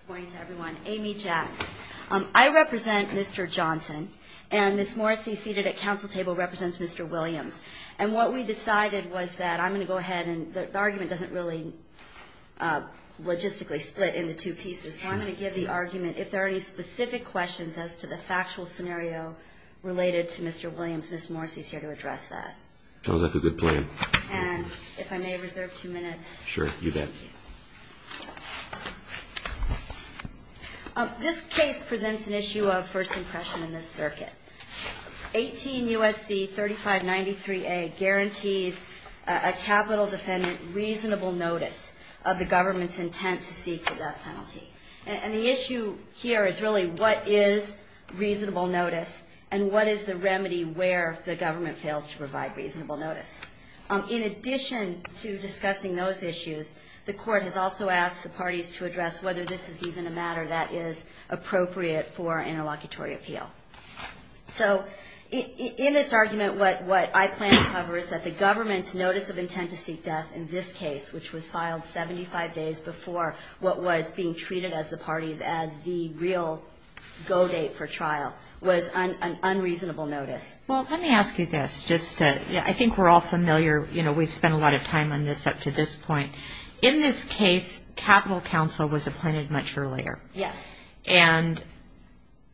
Good morning to everyone. Amy Jacks. I represent Mr. Johnson and Ms. Morrissey, seated at council table, represents Mr. Williams. And what we decided was that I'm going to go ahead and the argument doesn't really logistically split into two pieces. So I'm going to give the argument. If there are any specific questions as to the factual scenario related to Mr. Williams, Ms. Morrissey is here to address that. Sounds like a good plan. And if I may reserve two minutes. Sure, you bet. This case presents an issue of first impression in this circuit. 18 U.S.C. 3593A guarantees a capital defendant reasonable notice of the government's intent to seek that penalty. And the issue here is really what is reasonable notice and what is the remedy where the government fails to provide reasonable notice. In addition to discussing those issues, the court has also asked the parties to address whether this is even a matter that is appropriate for interlocutory appeal. So in this argument, what I plan to cover is that the government's notice of intent to seek death in this case, which was filed 75 days before what was being treated as the parties as the real go date for trial, was an unreasonable notice. Well, let me ask you this. Just to, I think we're all familiar, you know, we've spent a lot of time on this up to this point. In this case, capital counsel was appointed much earlier. Yes. And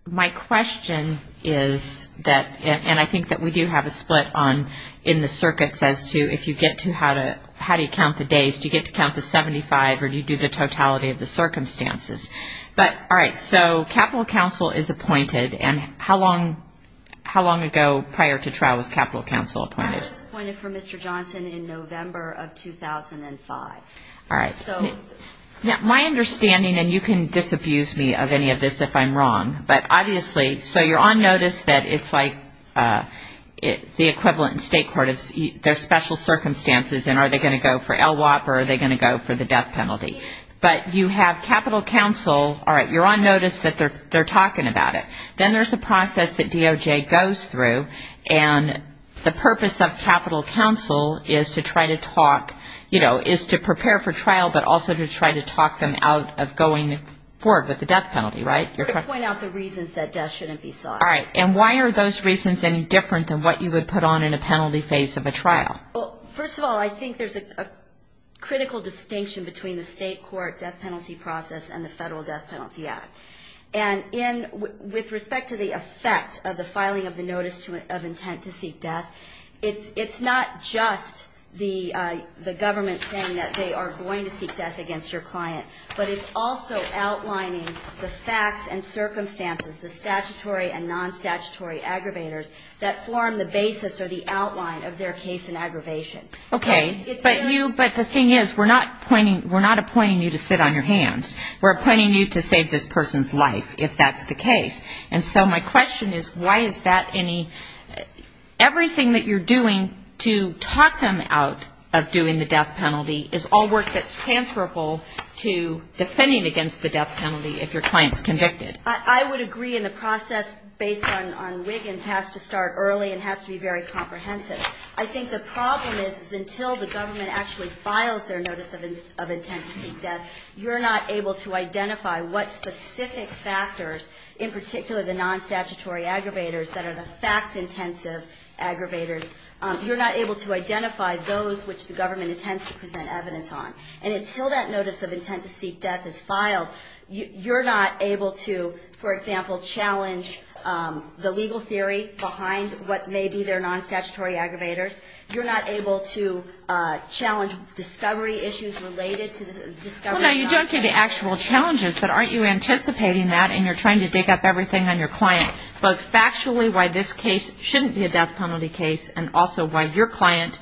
my question is that, and I think that we do have a split on in the circuits as to if you get to how to, how do you count the days, do you get to count the 75 or do you do the totality of the circumstances? But all right. So capital counsel is appointed. And how long, how long ago prior to trial was capital counsel appointed? Appointed for Mr. Johnson in November of 2005. All right. So my understanding, and you can disabuse me of any of this if I'm wrong, but obviously, so you're on notice that it's like the equivalent in state court, there's special circumstances, and are they going to go for LWOP or are they going to go for the death penalty? But you have capital counsel, all right, you're on notice that they're talking about it. Then there's a process that DOJ goes through, and the purpose of capital counsel is to try to talk, you know, is to prepare for trial, but also to try to talk them out of going forward with the death penalty, right? To point out the reasons that death shouldn't be sought. All right. And why are those reasons any different than what you would put on in a penalty phase of a trial? Well, first of all, I think there's a critical distinction between the state court death penalty process and the Federal Death Penalty Act. And with respect to the effect of the filing of the notice of intent to seek death, it's not just the government saying that they are going to seek death against your client, but it's also outlining the facts and circumstances, the statutory and non-statutory aggravators, that form the basis or the outline of their case in aggravation. Okay. But you, but the thing is, we're not appointing you to sit on your hands. We're appointing you to save this person's life, if that's the case. And so my question is, why is that any, everything that you're doing to talk them out of doing the death penalty is all work that's transferable to defending against the death penalty if your client's convicted? I would agree. And the process based on Wiggins has to start early and has to be very comprehensive. I think the problem is, is until the government actually files their notice of intent to seek death, you're not able to identify what specific factors, in particular the non-statutory aggravators that are the fact-intensive aggravators. You're not able to identify those which the government intends to present evidence on. And until that notice of intent to seek death is filed, you're not able to, for example, challenge the legal theory behind what may be their non-statutory aggravators. You're not able to challenge discovery issues related to the discovery of non-statutory aggravators. Well, no, you don't do the actual challenges, but aren't you anticipating that, and you're trying to dig up everything on your client, both factually why this case shouldn't be a death penalty case and also why your client,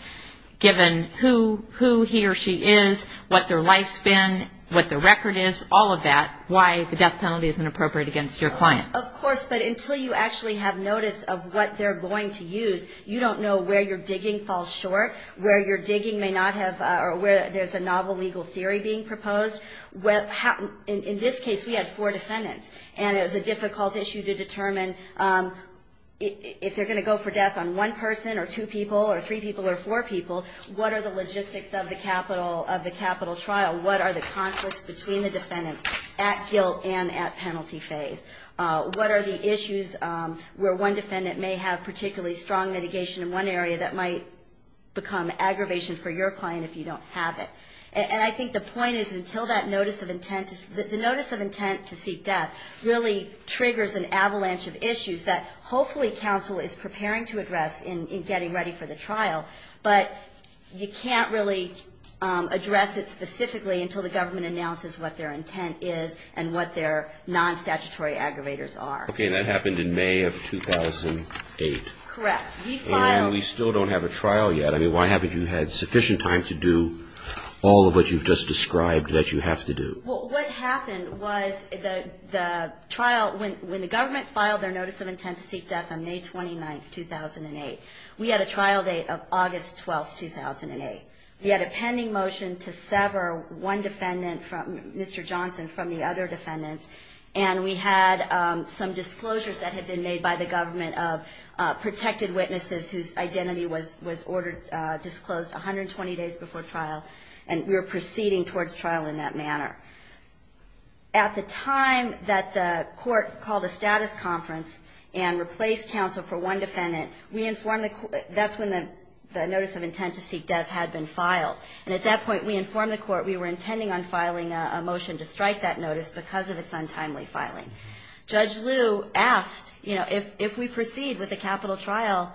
given who he or she is, what their life span, what their record is, all of that, why the death penalty isn't appropriate against your client? Of course, but until you actually have notice of what they're going to use, you don't know where your digging falls short, where your digging may not have, or where there's a novel legal theory being proposed. In this case, we had four defendants, and it was a difficult issue to determine if they're going to go for death on one person or two people or three people or four people, what are the logistics of the capital trial? What are the conflicts between the defendants at guilt and at penalty phase? What are the issues where one defendant may have particularly strong mitigation in one area that might become aggravation for your client if you don't have it? And I think the point is until that notice of intent is, the notice of intent to seek death really triggers an avalanche of issues that hopefully counsel is preparing to address in getting ready for the trial, but you can't really address it specifically until the government announces what their intent is and what their non-statutory aggravators are. Okay, and that happened in May of 2008. Correct. And we still don't have a trial yet. I mean, why haven't you had sufficient time to do all of what you've just described that you have to do? Well, what happened was the trial, when the government filed their notice of intent to seek death on May 29, 2008, we had a trial date of August 12, 2008. We had a pending motion to sever one defendant, Mr. Johnson, from the other defendants, and we had some disclosures that had been made by the government of protected witnesses whose identity was ordered disclosed 120 days before trial, and we were proceeding towards trial in that manner. At the time that the court called a status conference and replaced counsel for one defendant, that's when the notice of intent to seek death had been filed, and at that point we informed the court we were intending on filing a motion to strike that notice because of its untimely filing. Judge Liu asked, you know, if we proceed with a capital trial,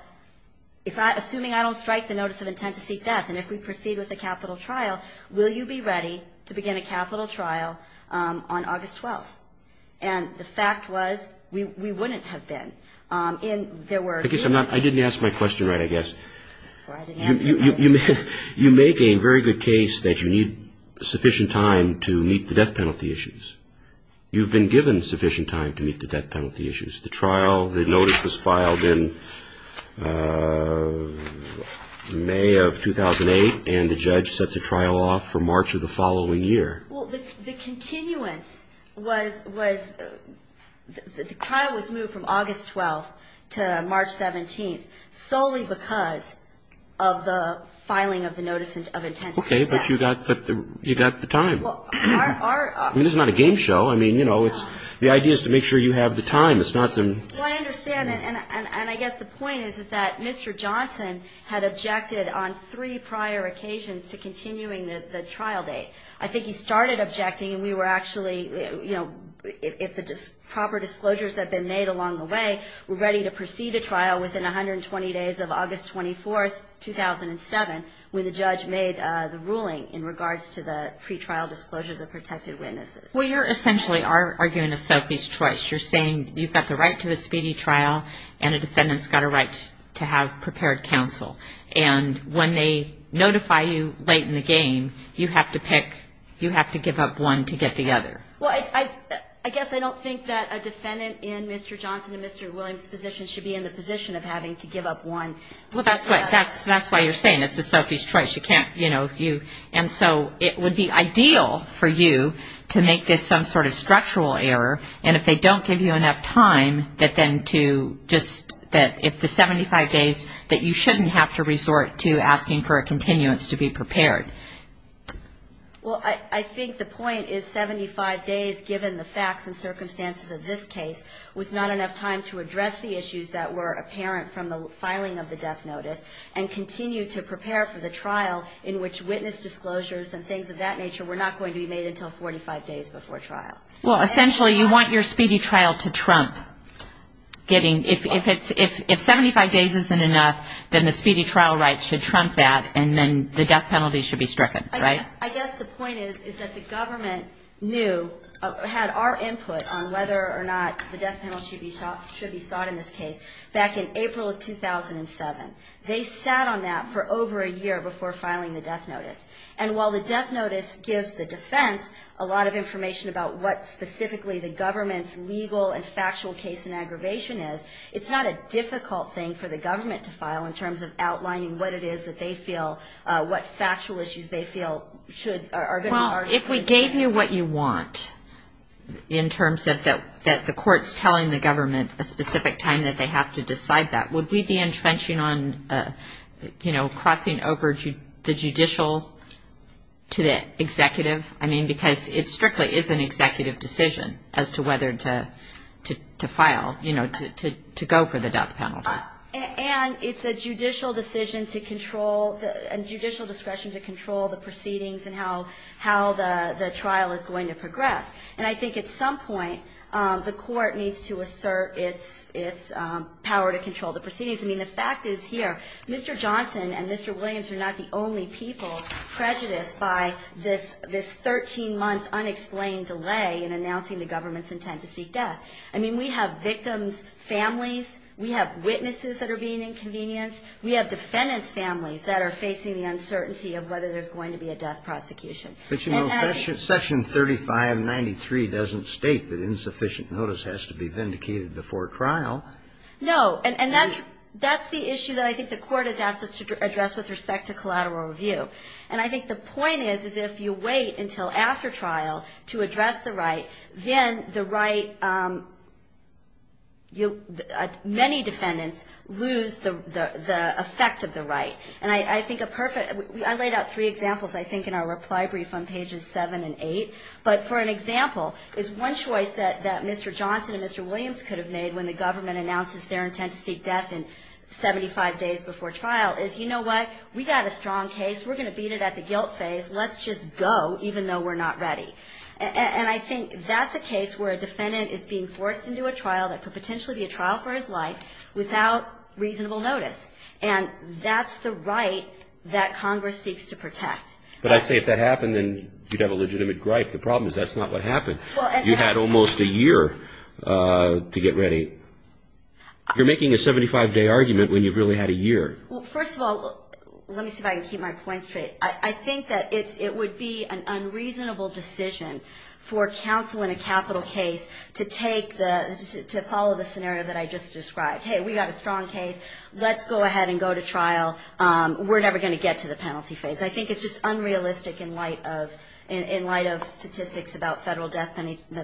assuming I don't strike the notice of intent to seek death, and if we proceed with a capital trial, will you be ready to begin a capital trial on August 12? And the fact was we wouldn't have been. I guess I didn't ask my question right, I guess. You make a very good case that you need sufficient time to meet the death penalty issues. You've been given sufficient time to meet the death penalty issues. The trial, the notice was filed in May of 2008, and the judge sets a trial off for March of the following year. Well, the continuance was the trial was moved from August 12 to March 17, solely because of the filing of the notice of intent to seek death. Okay, but you got the time. I mean, this is not a game show. I mean, you know, the idea is to make sure you have the time. It's not some. Well, I understand. And I guess the point is that Mr. Johnson had objected on three prior occasions to continuing the trial date. I think he started objecting, and we were actually, you know, if the proper disclosures had been made along the way, we're ready to proceed a trial within 120 days of August 24, 2007, when the judge made the ruling in regards to the pre-trial disclosures of protected witnesses. Well, you're essentially arguing a selfish choice. You're saying you've got the right to a speedy trial and a defendant's got a right to have prepared counsel. And when they notify you late in the game, you have to pick, you have to give up one to get the other. Well, I guess I don't think that a defendant in Mr. Johnson and Mr. Williams' position should be in the position of having to give up one. Well, that's why you're saying it's a selfish choice. You can't, you know, you. And so it would be ideal for you to make this some sort of structural error, and if they don't give you enough time, that then to just, that if the 75 days that you shouldn't have to resort to asking for a continuance to be prepared. Well, I think the point is 75 days, given the facts and circumstances of this case was not enough time to address the issues that were apparent from the filing of the death notice and continue to prepare for the trial in which witness disclosures and things of that nature were not going to be made until 45 days before trial. Well, essentially you want your speedy trial to trump getting, if 75 days isn't enough, then the speedy trial rights should trump that, and then the death penalty should be stricken, right? I guess the point is that the government knew, had our input on whether or not the death penalty should be sought in this case back in April of 2007. They sat on that for over a year before filing the death notice, and while the death notice gives the defense a lot of information about what specifically the government's legal and factual case in aggravation is, it's not a difficult thing for the government to file in terms of outlining what it is that they feel, what factual issues they feel should, Well, if we gave you what you want in terms of the courts telling the government a specific time that they have to decide that, would we be entrenching on, you know, crossing over the judicial to the executive? I mean, because it strictly is an executive decision as to whether to file, you know, to go for the death penalty. And it's a judicial decision to control, and judicial discretion to control the proceedings and how the trial is going to progress. And I think at some point the court needs to assert its power to control the proceedings. I mean, the fact is here, Mr. Johnson and Mr. Williams are not the only people prejudiced by this 13-month unexplained delay in announcing the government's intent to seek death. I mean, we have victims' families, we have witnesses that are being inconvenienced, we have defendants' families that are facing the uncertainty of whether there's going to be a death prosecution. But, you know, Section 3593 doesn't state that insufficient notice has to be vindicated before trial. No. And that's the issue that I think the court has asked us to address with respect to collateral review. And I think the point is, is if you wait until after trial to address the right, then the right, many defendants lose the effect of the right. And I think a perfect, I laid out three examples, I think, in our reply brief on pages 7 and 8. But for an example is one choice that Mr. Johnson and Mr. Williams could have made when the government announces their intent to seek death in 75 days before trial is, you know what, we've got a strong case, we're going to beat it at the guilt phase, let's just go even though we're not ready. And I think that's a case where a defendant is being forced into a trial that could potentially be a trial for his life without reasonable notice. And that's the right that Congress seeks to protect. But I'd say if that happened, then you'd have a legitimate gripe. The problem is that's not what happened. You had almost a year to get ready. You're making a 75-day argument when you've really had a year. Well, first of all, let me see if I can keep my points straight. I think that it would be an unreasonable decision for counsel in a capital case to follow the scenario that I just described. Hey, we've got a strong case. Let's go ahead and go to trial. We're never going to get to the penalty phase. I think it's just unrealistic in light of statistics about federal death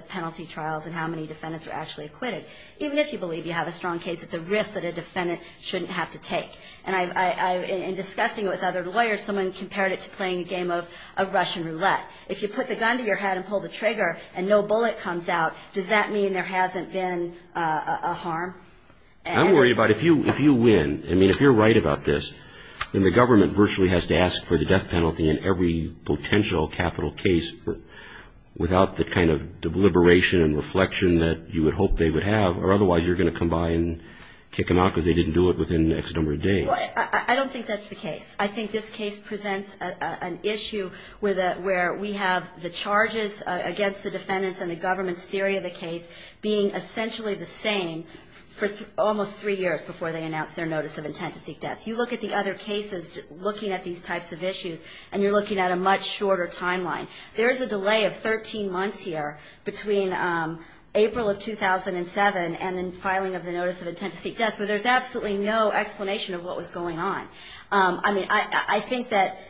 penalty trials and how many defendants are actually acquitted. Even if you believe you have a strong case, it's a risk that a defendant shouldn't have to take. In discussing it with other lawyers, someone compared it to playing a game of Russian roulette. If you put the gun to your head and pull the trigger and no bullet comes out, does that mean there hasn't been a harm? I'm worried about if you win. I mean, if you're right about this, then the government virtually has to ask for the death penalty in every potential capital case without the kind of deliberation and reflection that you would hope they would have, or otherwise you're going to come by and kick them out because they didn't do it within the next number of days. I don't think that's the case. I think this case presents an issue where we have the charges against the defendants and the government's theory of the case being essentially the same for almost three years before they announce their notice of intent to seek death. You look at the other cases looking at these types of issues, and you're looking at a much shorter timeline. There is a delay of 13 months here between April of 2007 and the filing of the notice of intent to seek death, but there's absolutely no explanation of what was going on. I mean, I think that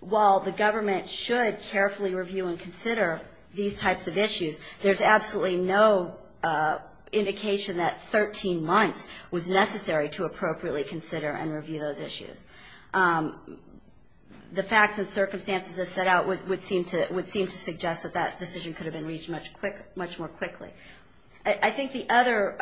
while the government should carefully review and consider these types of issues, there's absolutely no indication that 13 months was necessary to appropriately consider and review those issues. The facts and circumstances that set out would seem to suggest that that decision could have been reached much more quickly. I think the other,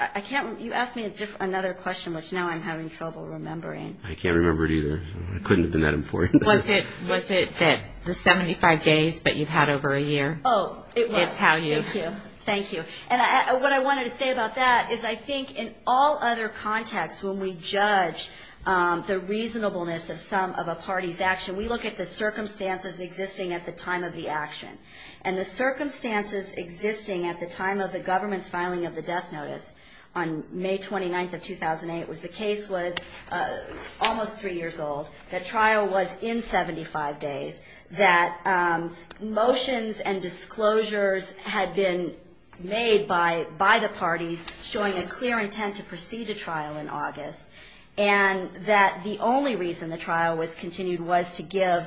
I can't remember, you asked me another question, which now I'm having trouble remembering. I can't remember it either. It couldn't have been that important. Was it the 75 days, but you've had over a year? Oh, it was. It's how you. Thank you. And what I wanted to say about that is I think in all other contexts, when we judge the reasonableness of some of a party's action, we look at the circumstances existing at the time of the action. And the circumstances existing at the time of the government's filing of the death notice on May 29th of 2008, the case was almost three years old. The trial was in 75 days. That motions and disclosures had been made by the parties showing a clear intent to proceed a trial in August. And that the only reason the trial was continued was to give,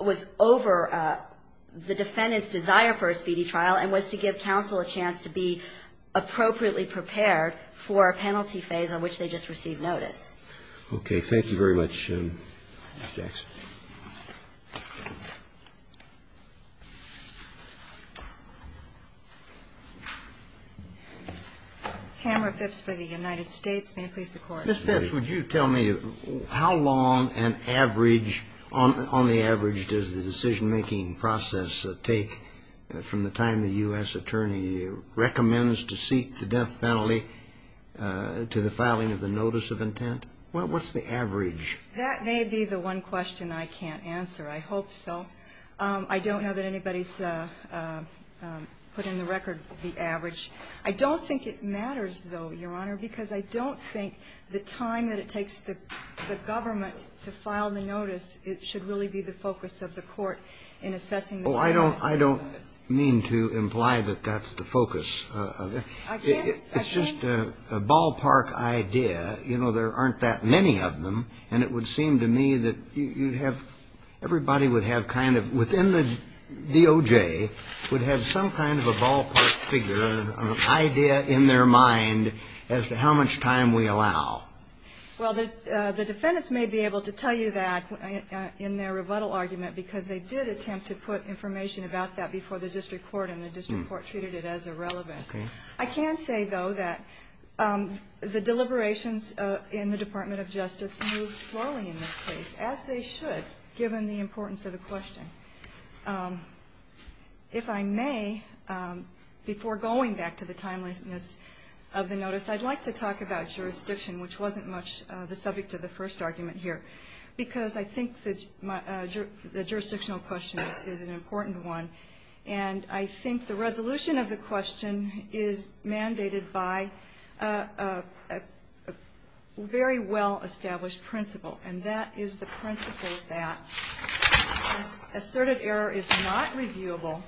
was over the defendant's desire for a speedy trial and was to give counsel a chance to be appropriately prepared for a penalty phase on which they just received notice. Tamara Phipps for the United States. May it please the Court. Ms. Phipps, would you tell me how long an average, on the average, does the decision-making process take from the time the U.S. attorney recommends to seek the death penalty to the filing of the notice of intent? What's the average? That may be the one question I can't answer. I hope so. I don't know that anybody's put in the record the average. I don't think it matters, though, Your Honor, because I don't think the time that it takes the government to file the notice, it should really be the focus of the Court in assessing the penalty notice. Well, I don't mean to imply that that's the focus. It's just a ballpark idea. You know, there aren't that many of them, and it would seem to me that you'd have, everybody would have kind of, within the DOJ, would have some kind of a ballpark figure, an idea in their mind as to how much time we allow. Well, the defendants may be able to tell you that in their rebuttal argument, because they did attempt to put information about that before the district court, and the district court treated it as irrelevant. I can say, though, that the deliberations in the Department of Justice moved slowly in this case, as they should, given the importance of the question. If I may, before going back to the timeliness of the notice, I'd like to talk about jurisdiction, which wasn't much the subject of the first argument here, because I think the jurisdictional question is an important one, and I think the resolution of the question is mandated by a very well-established principle, and that is the principle that asserted error is not reviewable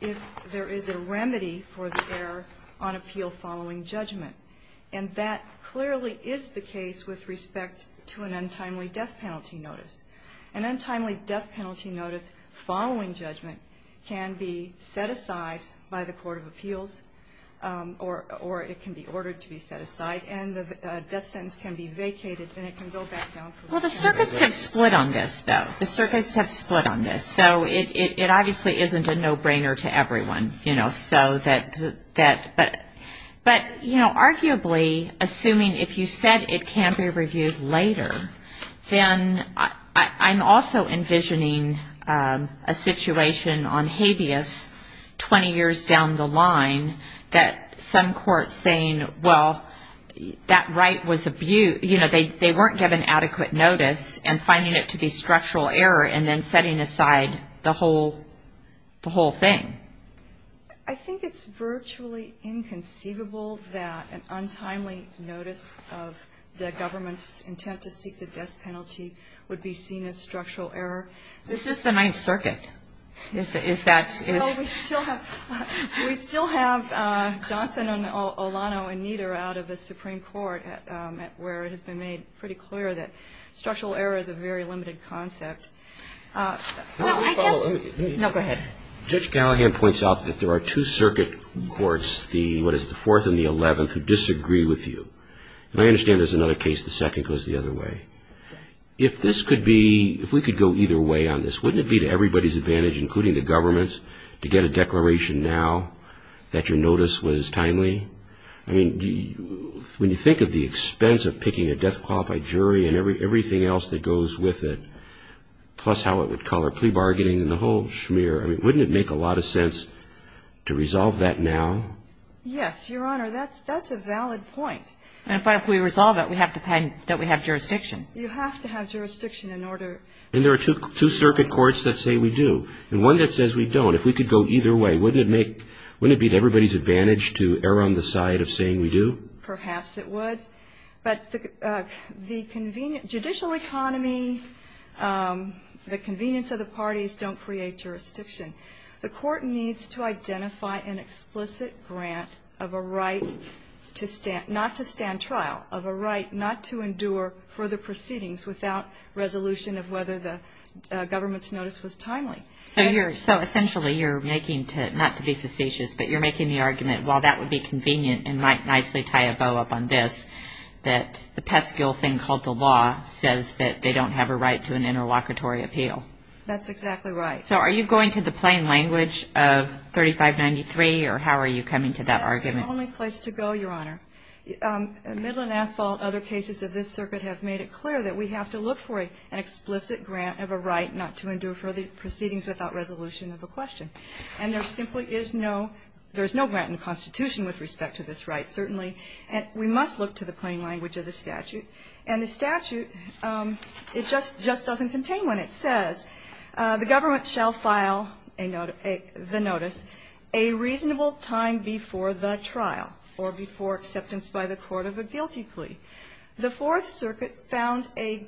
if there is a remedy for the error on appeal following judgment, and that clearly is the case with respect to an untimely death penalty. An untimely death penalty notice following judgment can be set aside by the court of appeals, or it can be ordered to be set aside, and the death sentence can be vacated, and it can go back down. Well, the circuits have split on this, though. The circuits have split on this, so it obviously isn't a no-brainer to everyone, you know, but, you know, arguably, assuming if you said it can't be reviewed later, then I'm also envisioning a situation on habeas 20 years down the line that some courts saying, well, that right was abused, you know, they weren't given adequate notice, and finding it to be structural error, and then setting aside the whole thing. I think it's virtually inconceivable that an untimely notice of the government's intent to seek the death penalty would be seen as structural error. This is the Ninth Circuit. We still have Johnson and Olano and Nieder out of the Supreme Court, where it has been made pretty clear that structural error is a very limited concept. No, go ahead. Judge Gallagher points out that there are two circuit courts, what is the Fourth and the Eleventh, who disagree with you. And I understand there's another case, the second goes the other way. If this could be, if we could go either way on this, wouldn't it be to everybody's advantage, including the government's, to get a declaration now that your notice was timely? I mean, when you think of the expense of picking a death-qualified jury and everything else that goes with it, plus how it would color plea bargaining and the whole schmear, I mean, wouldn't it make a lot of sense to resolve that now? Yes, Your Honor, that's a valid point. But if we resolve it, we have to have jurisdiction. You have to have jurisdiction in order to do that. And there are two circuit courts that say we do, and one that says we don't. If we could go either way, wouldn't it make, wouldn't it be to everybody's advantage to err on the side of saying we do? Perhaps it would. But the judicial economy, the convenience of the parties don't create jurisdiction. The court needs to identify an explicit grant of a right to stand, not to stand trial, of a right not to endure further proceedings without resolution of whether the government's notice was timely. So you're, so essentially you're making, not to be facetious, but you're making the argument while that would be convenient and might nicely tie a bow up on this, that the pesky old thing called the law says that they don't have a right to an interlocutory appeal. That's exactly right. So are you going to the plain language of 3593, or how are you coming to that argument? That's the only place to go, Your Honor. Midland Asphalt, other cases of this circuit have made it clear that we have to look for an explicit grant of a right not to endure further proceedings without resolution of a question. And there simply is no, there's no grant in the Constitution with respect to this right, certainly. We must look to the plain language of the statute. And the statute, it just doesn't contain when it says the government shall file the notice a reasonable time before the trial or before acceptance by the court of a guilty plea. The Fourth Circuit found a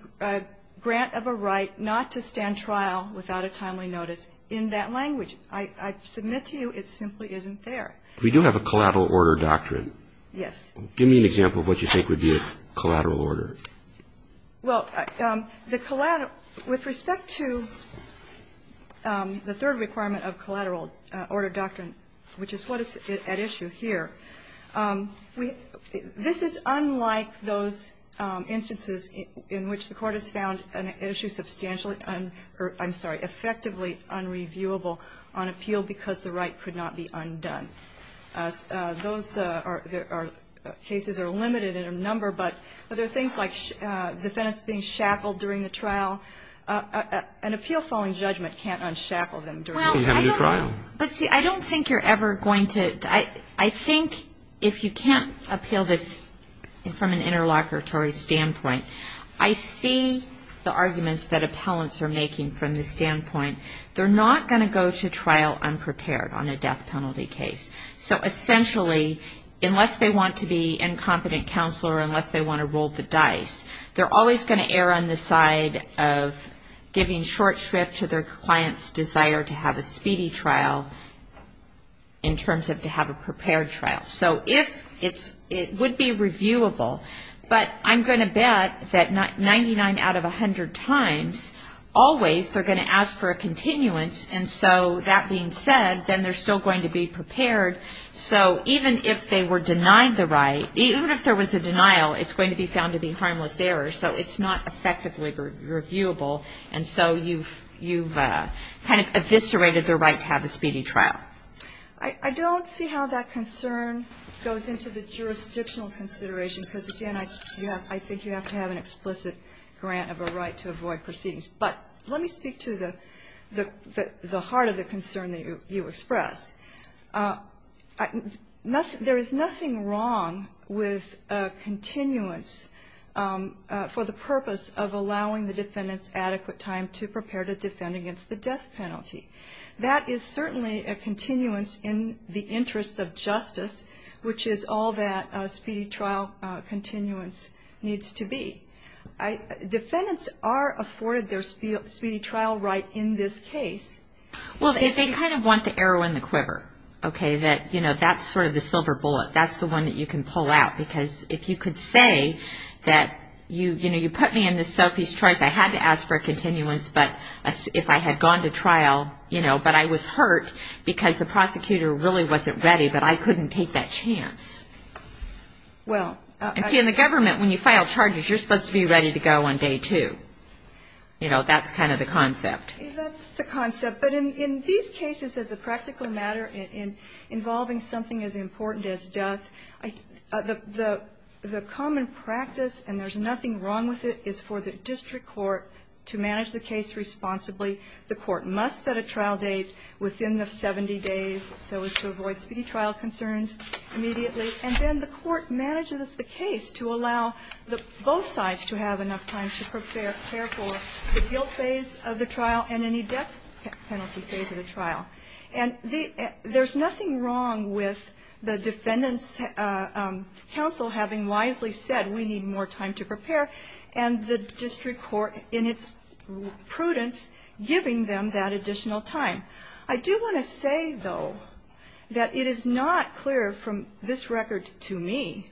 grant of a right not to stand trial without a timely notice in that language. I submit to you it simply isn't there. We do have a collateral order doctrine. Yes. Give me an example of what you think would be a collateral order. Well, the collateral, with respect to the third requirement of collateral order doctrine, which is what is at issue here, we, this is unlike those instances in which the Court has found an issue substantially, I'm sorry, effectively unreviewable on appeal because the right could not be undone. Those cases are limited in a number, but there are things like defendants being shackled during the trial. An appeal following judgment can't unshackle them during the trial. Well, I don't, but see, I don't think you're ever going to, I think if you can't appeal this from an interlocutory standpoint, I see the arguments that appellants are making from the standpoint they're not going to go to trial unprepared on a death penalty case. So essentially, unless they want to be incompetent counselor, unless they want to roll the dice, they're always going to err on the side of giving short shrift to their client's desire to have a speedy trial in terms of to have a prepared trial. So if it's, it would be reviewable, but I'm going to bet that 99 out of 100 times always they're going to ask for a continuance, and so that being said, then they're still going to be prepared. So even if they were denied the right, even if there was a denial, it's going to be found to be harmless error, so it's not effectively reviewable, and so you've kind of eviscerated their right to have a speedy trial. I don't see how that concern goes into the jurisdictional consideration, because, again, I think you have to have an explicit grant of a right to avoid proceedings, but let me speak to the heart of the concern that you express. There is nothing wrong with continuance for the purpose of allowing the defendant's adequate time to prepare to defend against the death penalty. That is certainly a continuance in the interest of justice, which is all that speedy trial continuance needs to be. Defendants are afforded their speedy trial right in this case. Well, they kind of want the arrow and the quiver, okay, that, you know, that's sort of the silver bullet. That's the one that you can pull out, because if you could say that, you know, you put me in this selfish choice, I had to ask for a continuance, but if I had gone to trial, you know, but I was hurt because the prosecutor really wasn't ready, but I couldn't take that chance. And see, in the government, when you file charges, you're supposed to be ready to go on day two. You know, that's kind of the concept. That's the concept. But in these cases, as a practical matter, involving something as important as death, the common practice, and there's nothing wrong with it, is for the district court to manage the case responsibly. The court must set a trial date within the 70 days so as to avoid speedy trial concerns immediately, and then the court manages the case to allow both sides to have enough time to prepare for the guilt phase of the trial and any death penalty phase of the trial. And there's nothing wrong with the defendant's counsel having wisely said, we need more time to prepare, and the district court, in its prudence, giving them that additional time. I do want to say, though, that it is not clear from this record to me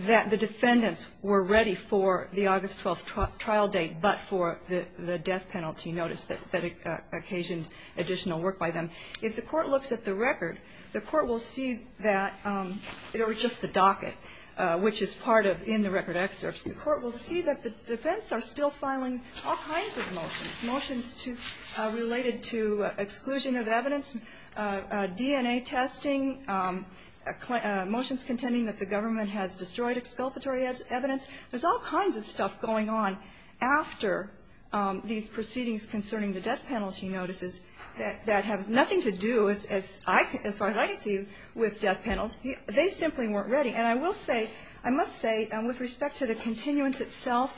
that the defendants were ready for the August 12th trial date but for the death penalty notice that occasioned additional work by them. If the court looks at the record, the court will see that, or just the docket, which is part of in the record excerpts, the court will see that the defense are still filing all kinds of motions, motions related to exclusion of evidence, DNA testing, motions contending that the government has destroyed exculpatory evidence. There's all kinds of stuff going on after these proceedings concerning the death penalty notices that have nothing to do, as far as I can see, with death penalty. They simply weren't ready. And I will say, I must say, with respect to the continuance itself,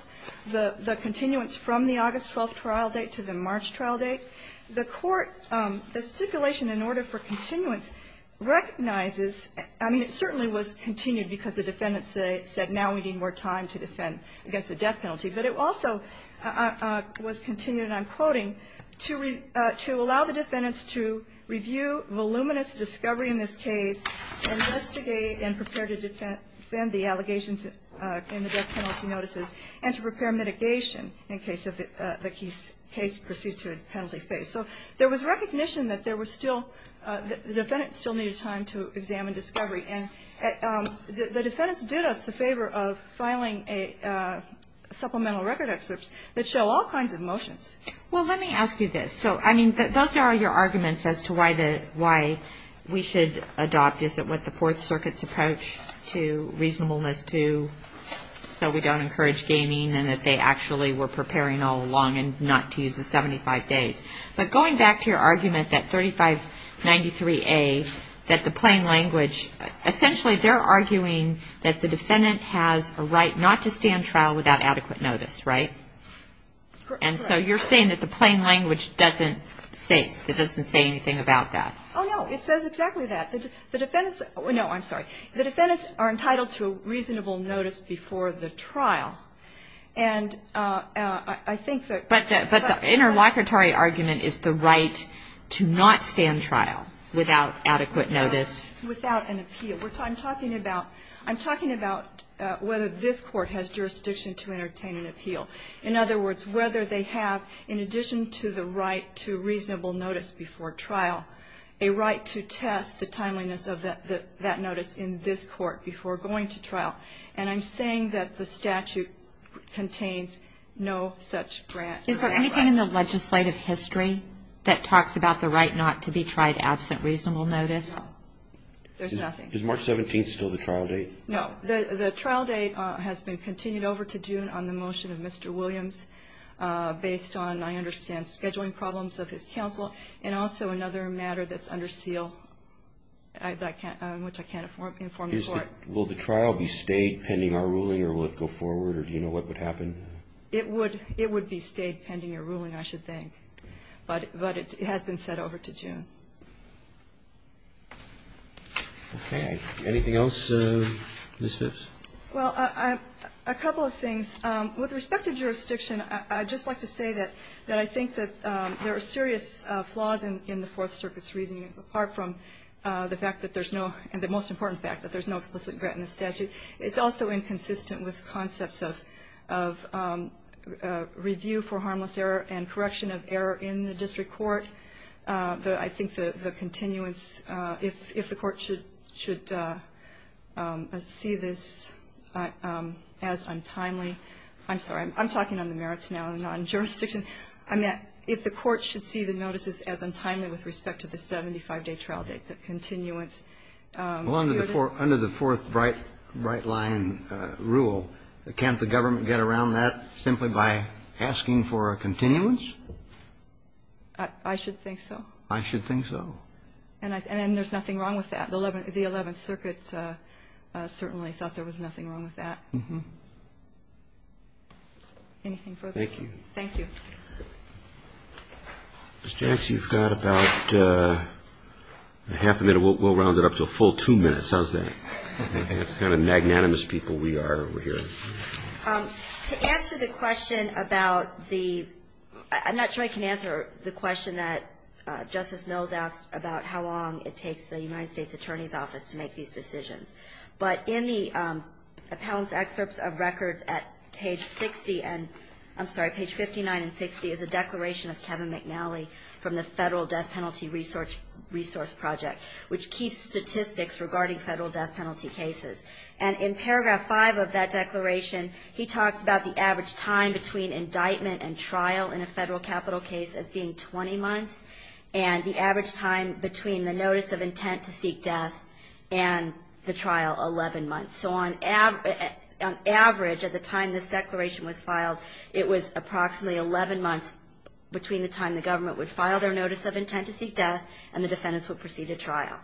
the continuance from the August 12th trial date to the March trial date, the court, the stipulation in order for continuance recognizes, I mean, it certainly was continued because the defendants said now we need more time to defend against the death penalty. But it also was continued, and I'm quoting, to allow the defendants to review voluminous discovery in this case, investigate and prepare to defend the allegations in the death penalty notices, and to prepare mitigation in case the case proceeds to a penalty phase. So there was recognition that there was still the defendants still needed time to examine discovery. And the defendants did us a favor of filing supplemental record excerpts that show all kinds of motions. Well, let me ask you this. So, I mean, those are your arguments as to why we should adopt, is it what the Fourth Circuit's approach to reasonableness to, so we don't encourage gaming, and that they actually were preparing all along and not to use the 75 days. But going back to your argument that 3593A, that the plain language, essentially they're arguing that the defendant has a right not to stand trial without adequate notice, right? Correct. And so you're saying that the plain language doesn't say, it doesn't say anything about that. Oh, no. It says exactly that. The defendants, no, I'm sorry. The defendants are entitled to a reasonable notice before the trial. And I think that. But the interlocutory argument is the right to not stand trial without adequate notice. Without an appeal. I'm talking about whether this Court has jurisdiction to entertain an appeal. In other words, whether they have, in addition to the right to reasonable notice before trial, a right to test the timeliness of that notice in this Court before going to trial. And I'm saying that the statute contains no such grant. Is there anything in the legislative history that talks about the right not to be tried absent reasonable notice? There's nothing. Is March 17th still the trial date? No. The trial date has been continued over to June on the motion of Mr. Williams based on, I understand, scheduling problems of his counsel and also another matter that's under seal, which I can't inform the Court. Will the trial be stayed pending our ruling or will it go forward? Or do you know what would happen? It would be stayed pending your ruling, I should think. But it has been set over to June. Okay. Anything else, Ms. Phipps? Well, a couple of things. With respect to jurisdiction, I'd just like to say that I think that there are serious flaws in the Fourth Circuit's reasoning, apart from the fact that there's no, and the most important fact, that there's no explicit grant in the statute. It's also inconsistent with concepts of review for harmless error and correction of error in the district court. I think the continuance, if the Court should see this as untimely. I'm sorry. I'm talking on the merits now, not on jurisdiction. If the Court should see the notices as untimely with respect to the 75-day trial date, the continuance. Well, under the Fourth Brightline rule, can't the government get around that simply by asking for a continuance? I should think so. I should think so. And there's nothing wrong with that. The Eleventh Circuit certainly thought there was nothing wrong with that. Mm-hmm. Thank you. Thank you. Ms. Jackson, you've got about half a minute. We'll round it up to a full two minutes. How's that? That's the kind of magnanimous people we are over here. To answer the question about the – I'm not sure I can answer the question that Justice Mills asked about how long it takes the United States Attorney's Office to make these decisions. But in the appellant's excerpts of records at page 60 – I'm sorry, page 59 and 60 is a declaration of Kevin McNally from the Federal Death Penalty Resource Project, which keeps statistics regarding federal death penalty cases. And in paragraph 5 of that declaration, he talks about the average time between indictment and trial in a federal capital case as being 20 months, and the average time between the notice of intent to seek death and the trial, 11 months. So on average, at the time this declaration was filed, it was approximately 11 months between the time the government would file their notice of intent to seek death and the defendants would proceed to trial.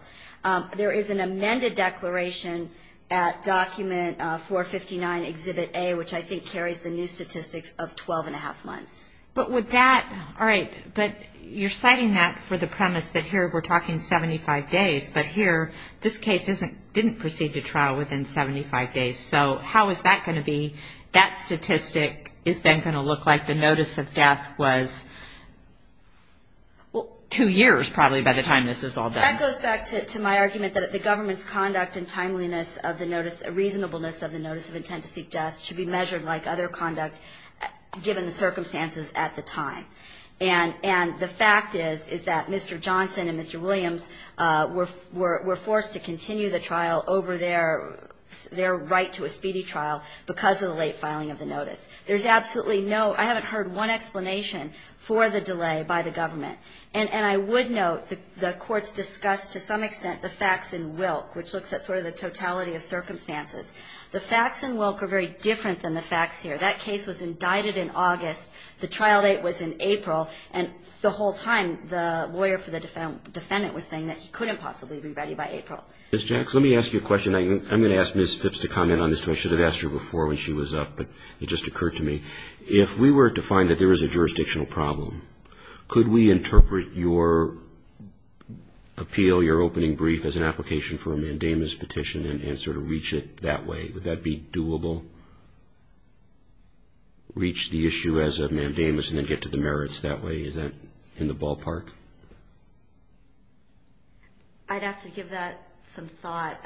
There is an amended declaration at Document 459, Exhibit A, which I think carries the new statistics of 12-and-a-half months. But would that – all right, but you're citing that for the premise that here we're talking 75 days, but here this case didn't proceed to trial within 75 days. So how is that going to be? That statistic is then going to look like the notice of death was, well, two years probably by the time this is all done. Well, that goes back to my argument that the government's conduct and timeliness of the notice – reasonableness of the notice of intent to seek death should be measured like other conduct given the circumstances at the time. And the fact is, is that Mr. Johnson and Mr. Williams were forced to continue the trial over their right to a speedy trial because of the late filing of the notice. There's absolutely no – I haven't heard one explanation for the delay by the government. And I would note the courts discussed to some extent the facts in Wilk, which looks at sort of the totality of circumstances. The facts in Wilk are very different than the facts here. That case was indicted in August. The trial date was in April. And the whole time the lawyer for the defendant was saying that he couldn't possibly be ready by April. Ms. Jax, let me ask you a question. I'm going to ask Ms. Phipps to comment on this. I should have asked her before when she was up, but it just occurred to me. If we were to find that there is a jurisdictional problem, could we interpret your appeal, your opening brief, as an application for a mandamus petition and sort of reach it that way? Would that be doable? Reach the issue as a mandamus and then get to the merits that way? Is that in the ballpark? I'd have to give that some thought.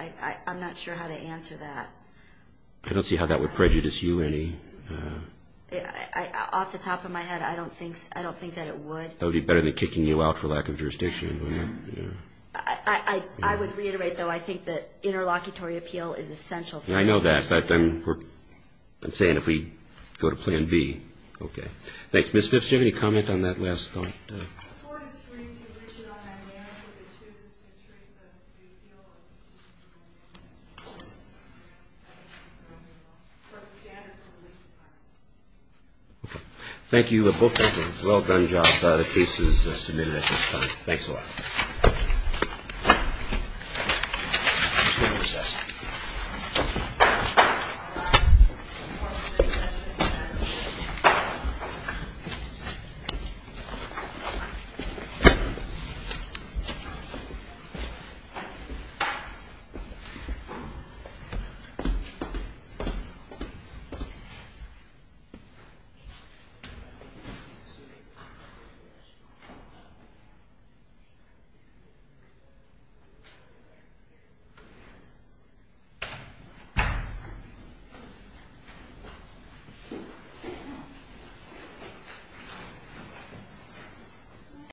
I'm not sure how to answer that. I don't see how that would prejudice you any. Off the top of my head, I don't think that it would. That would be better than kicking you out for lack of jurisdiction. I would reiterate, though, I think that interlocutory appeal is essential. I know that, but I'm saying if we go to Plan B. Okay. Thanks. Ms. Phipps, do you have any comment on that last thought? The court is free to reach it on that mandamus if it chooses to treat the appeal as a petition. I think that's a ground rule. Of course, it's standard for the legal side. Okay. Thank you both. Well done, John. The case is submitted at this time. Thanks a lot. Thank you. Thank you.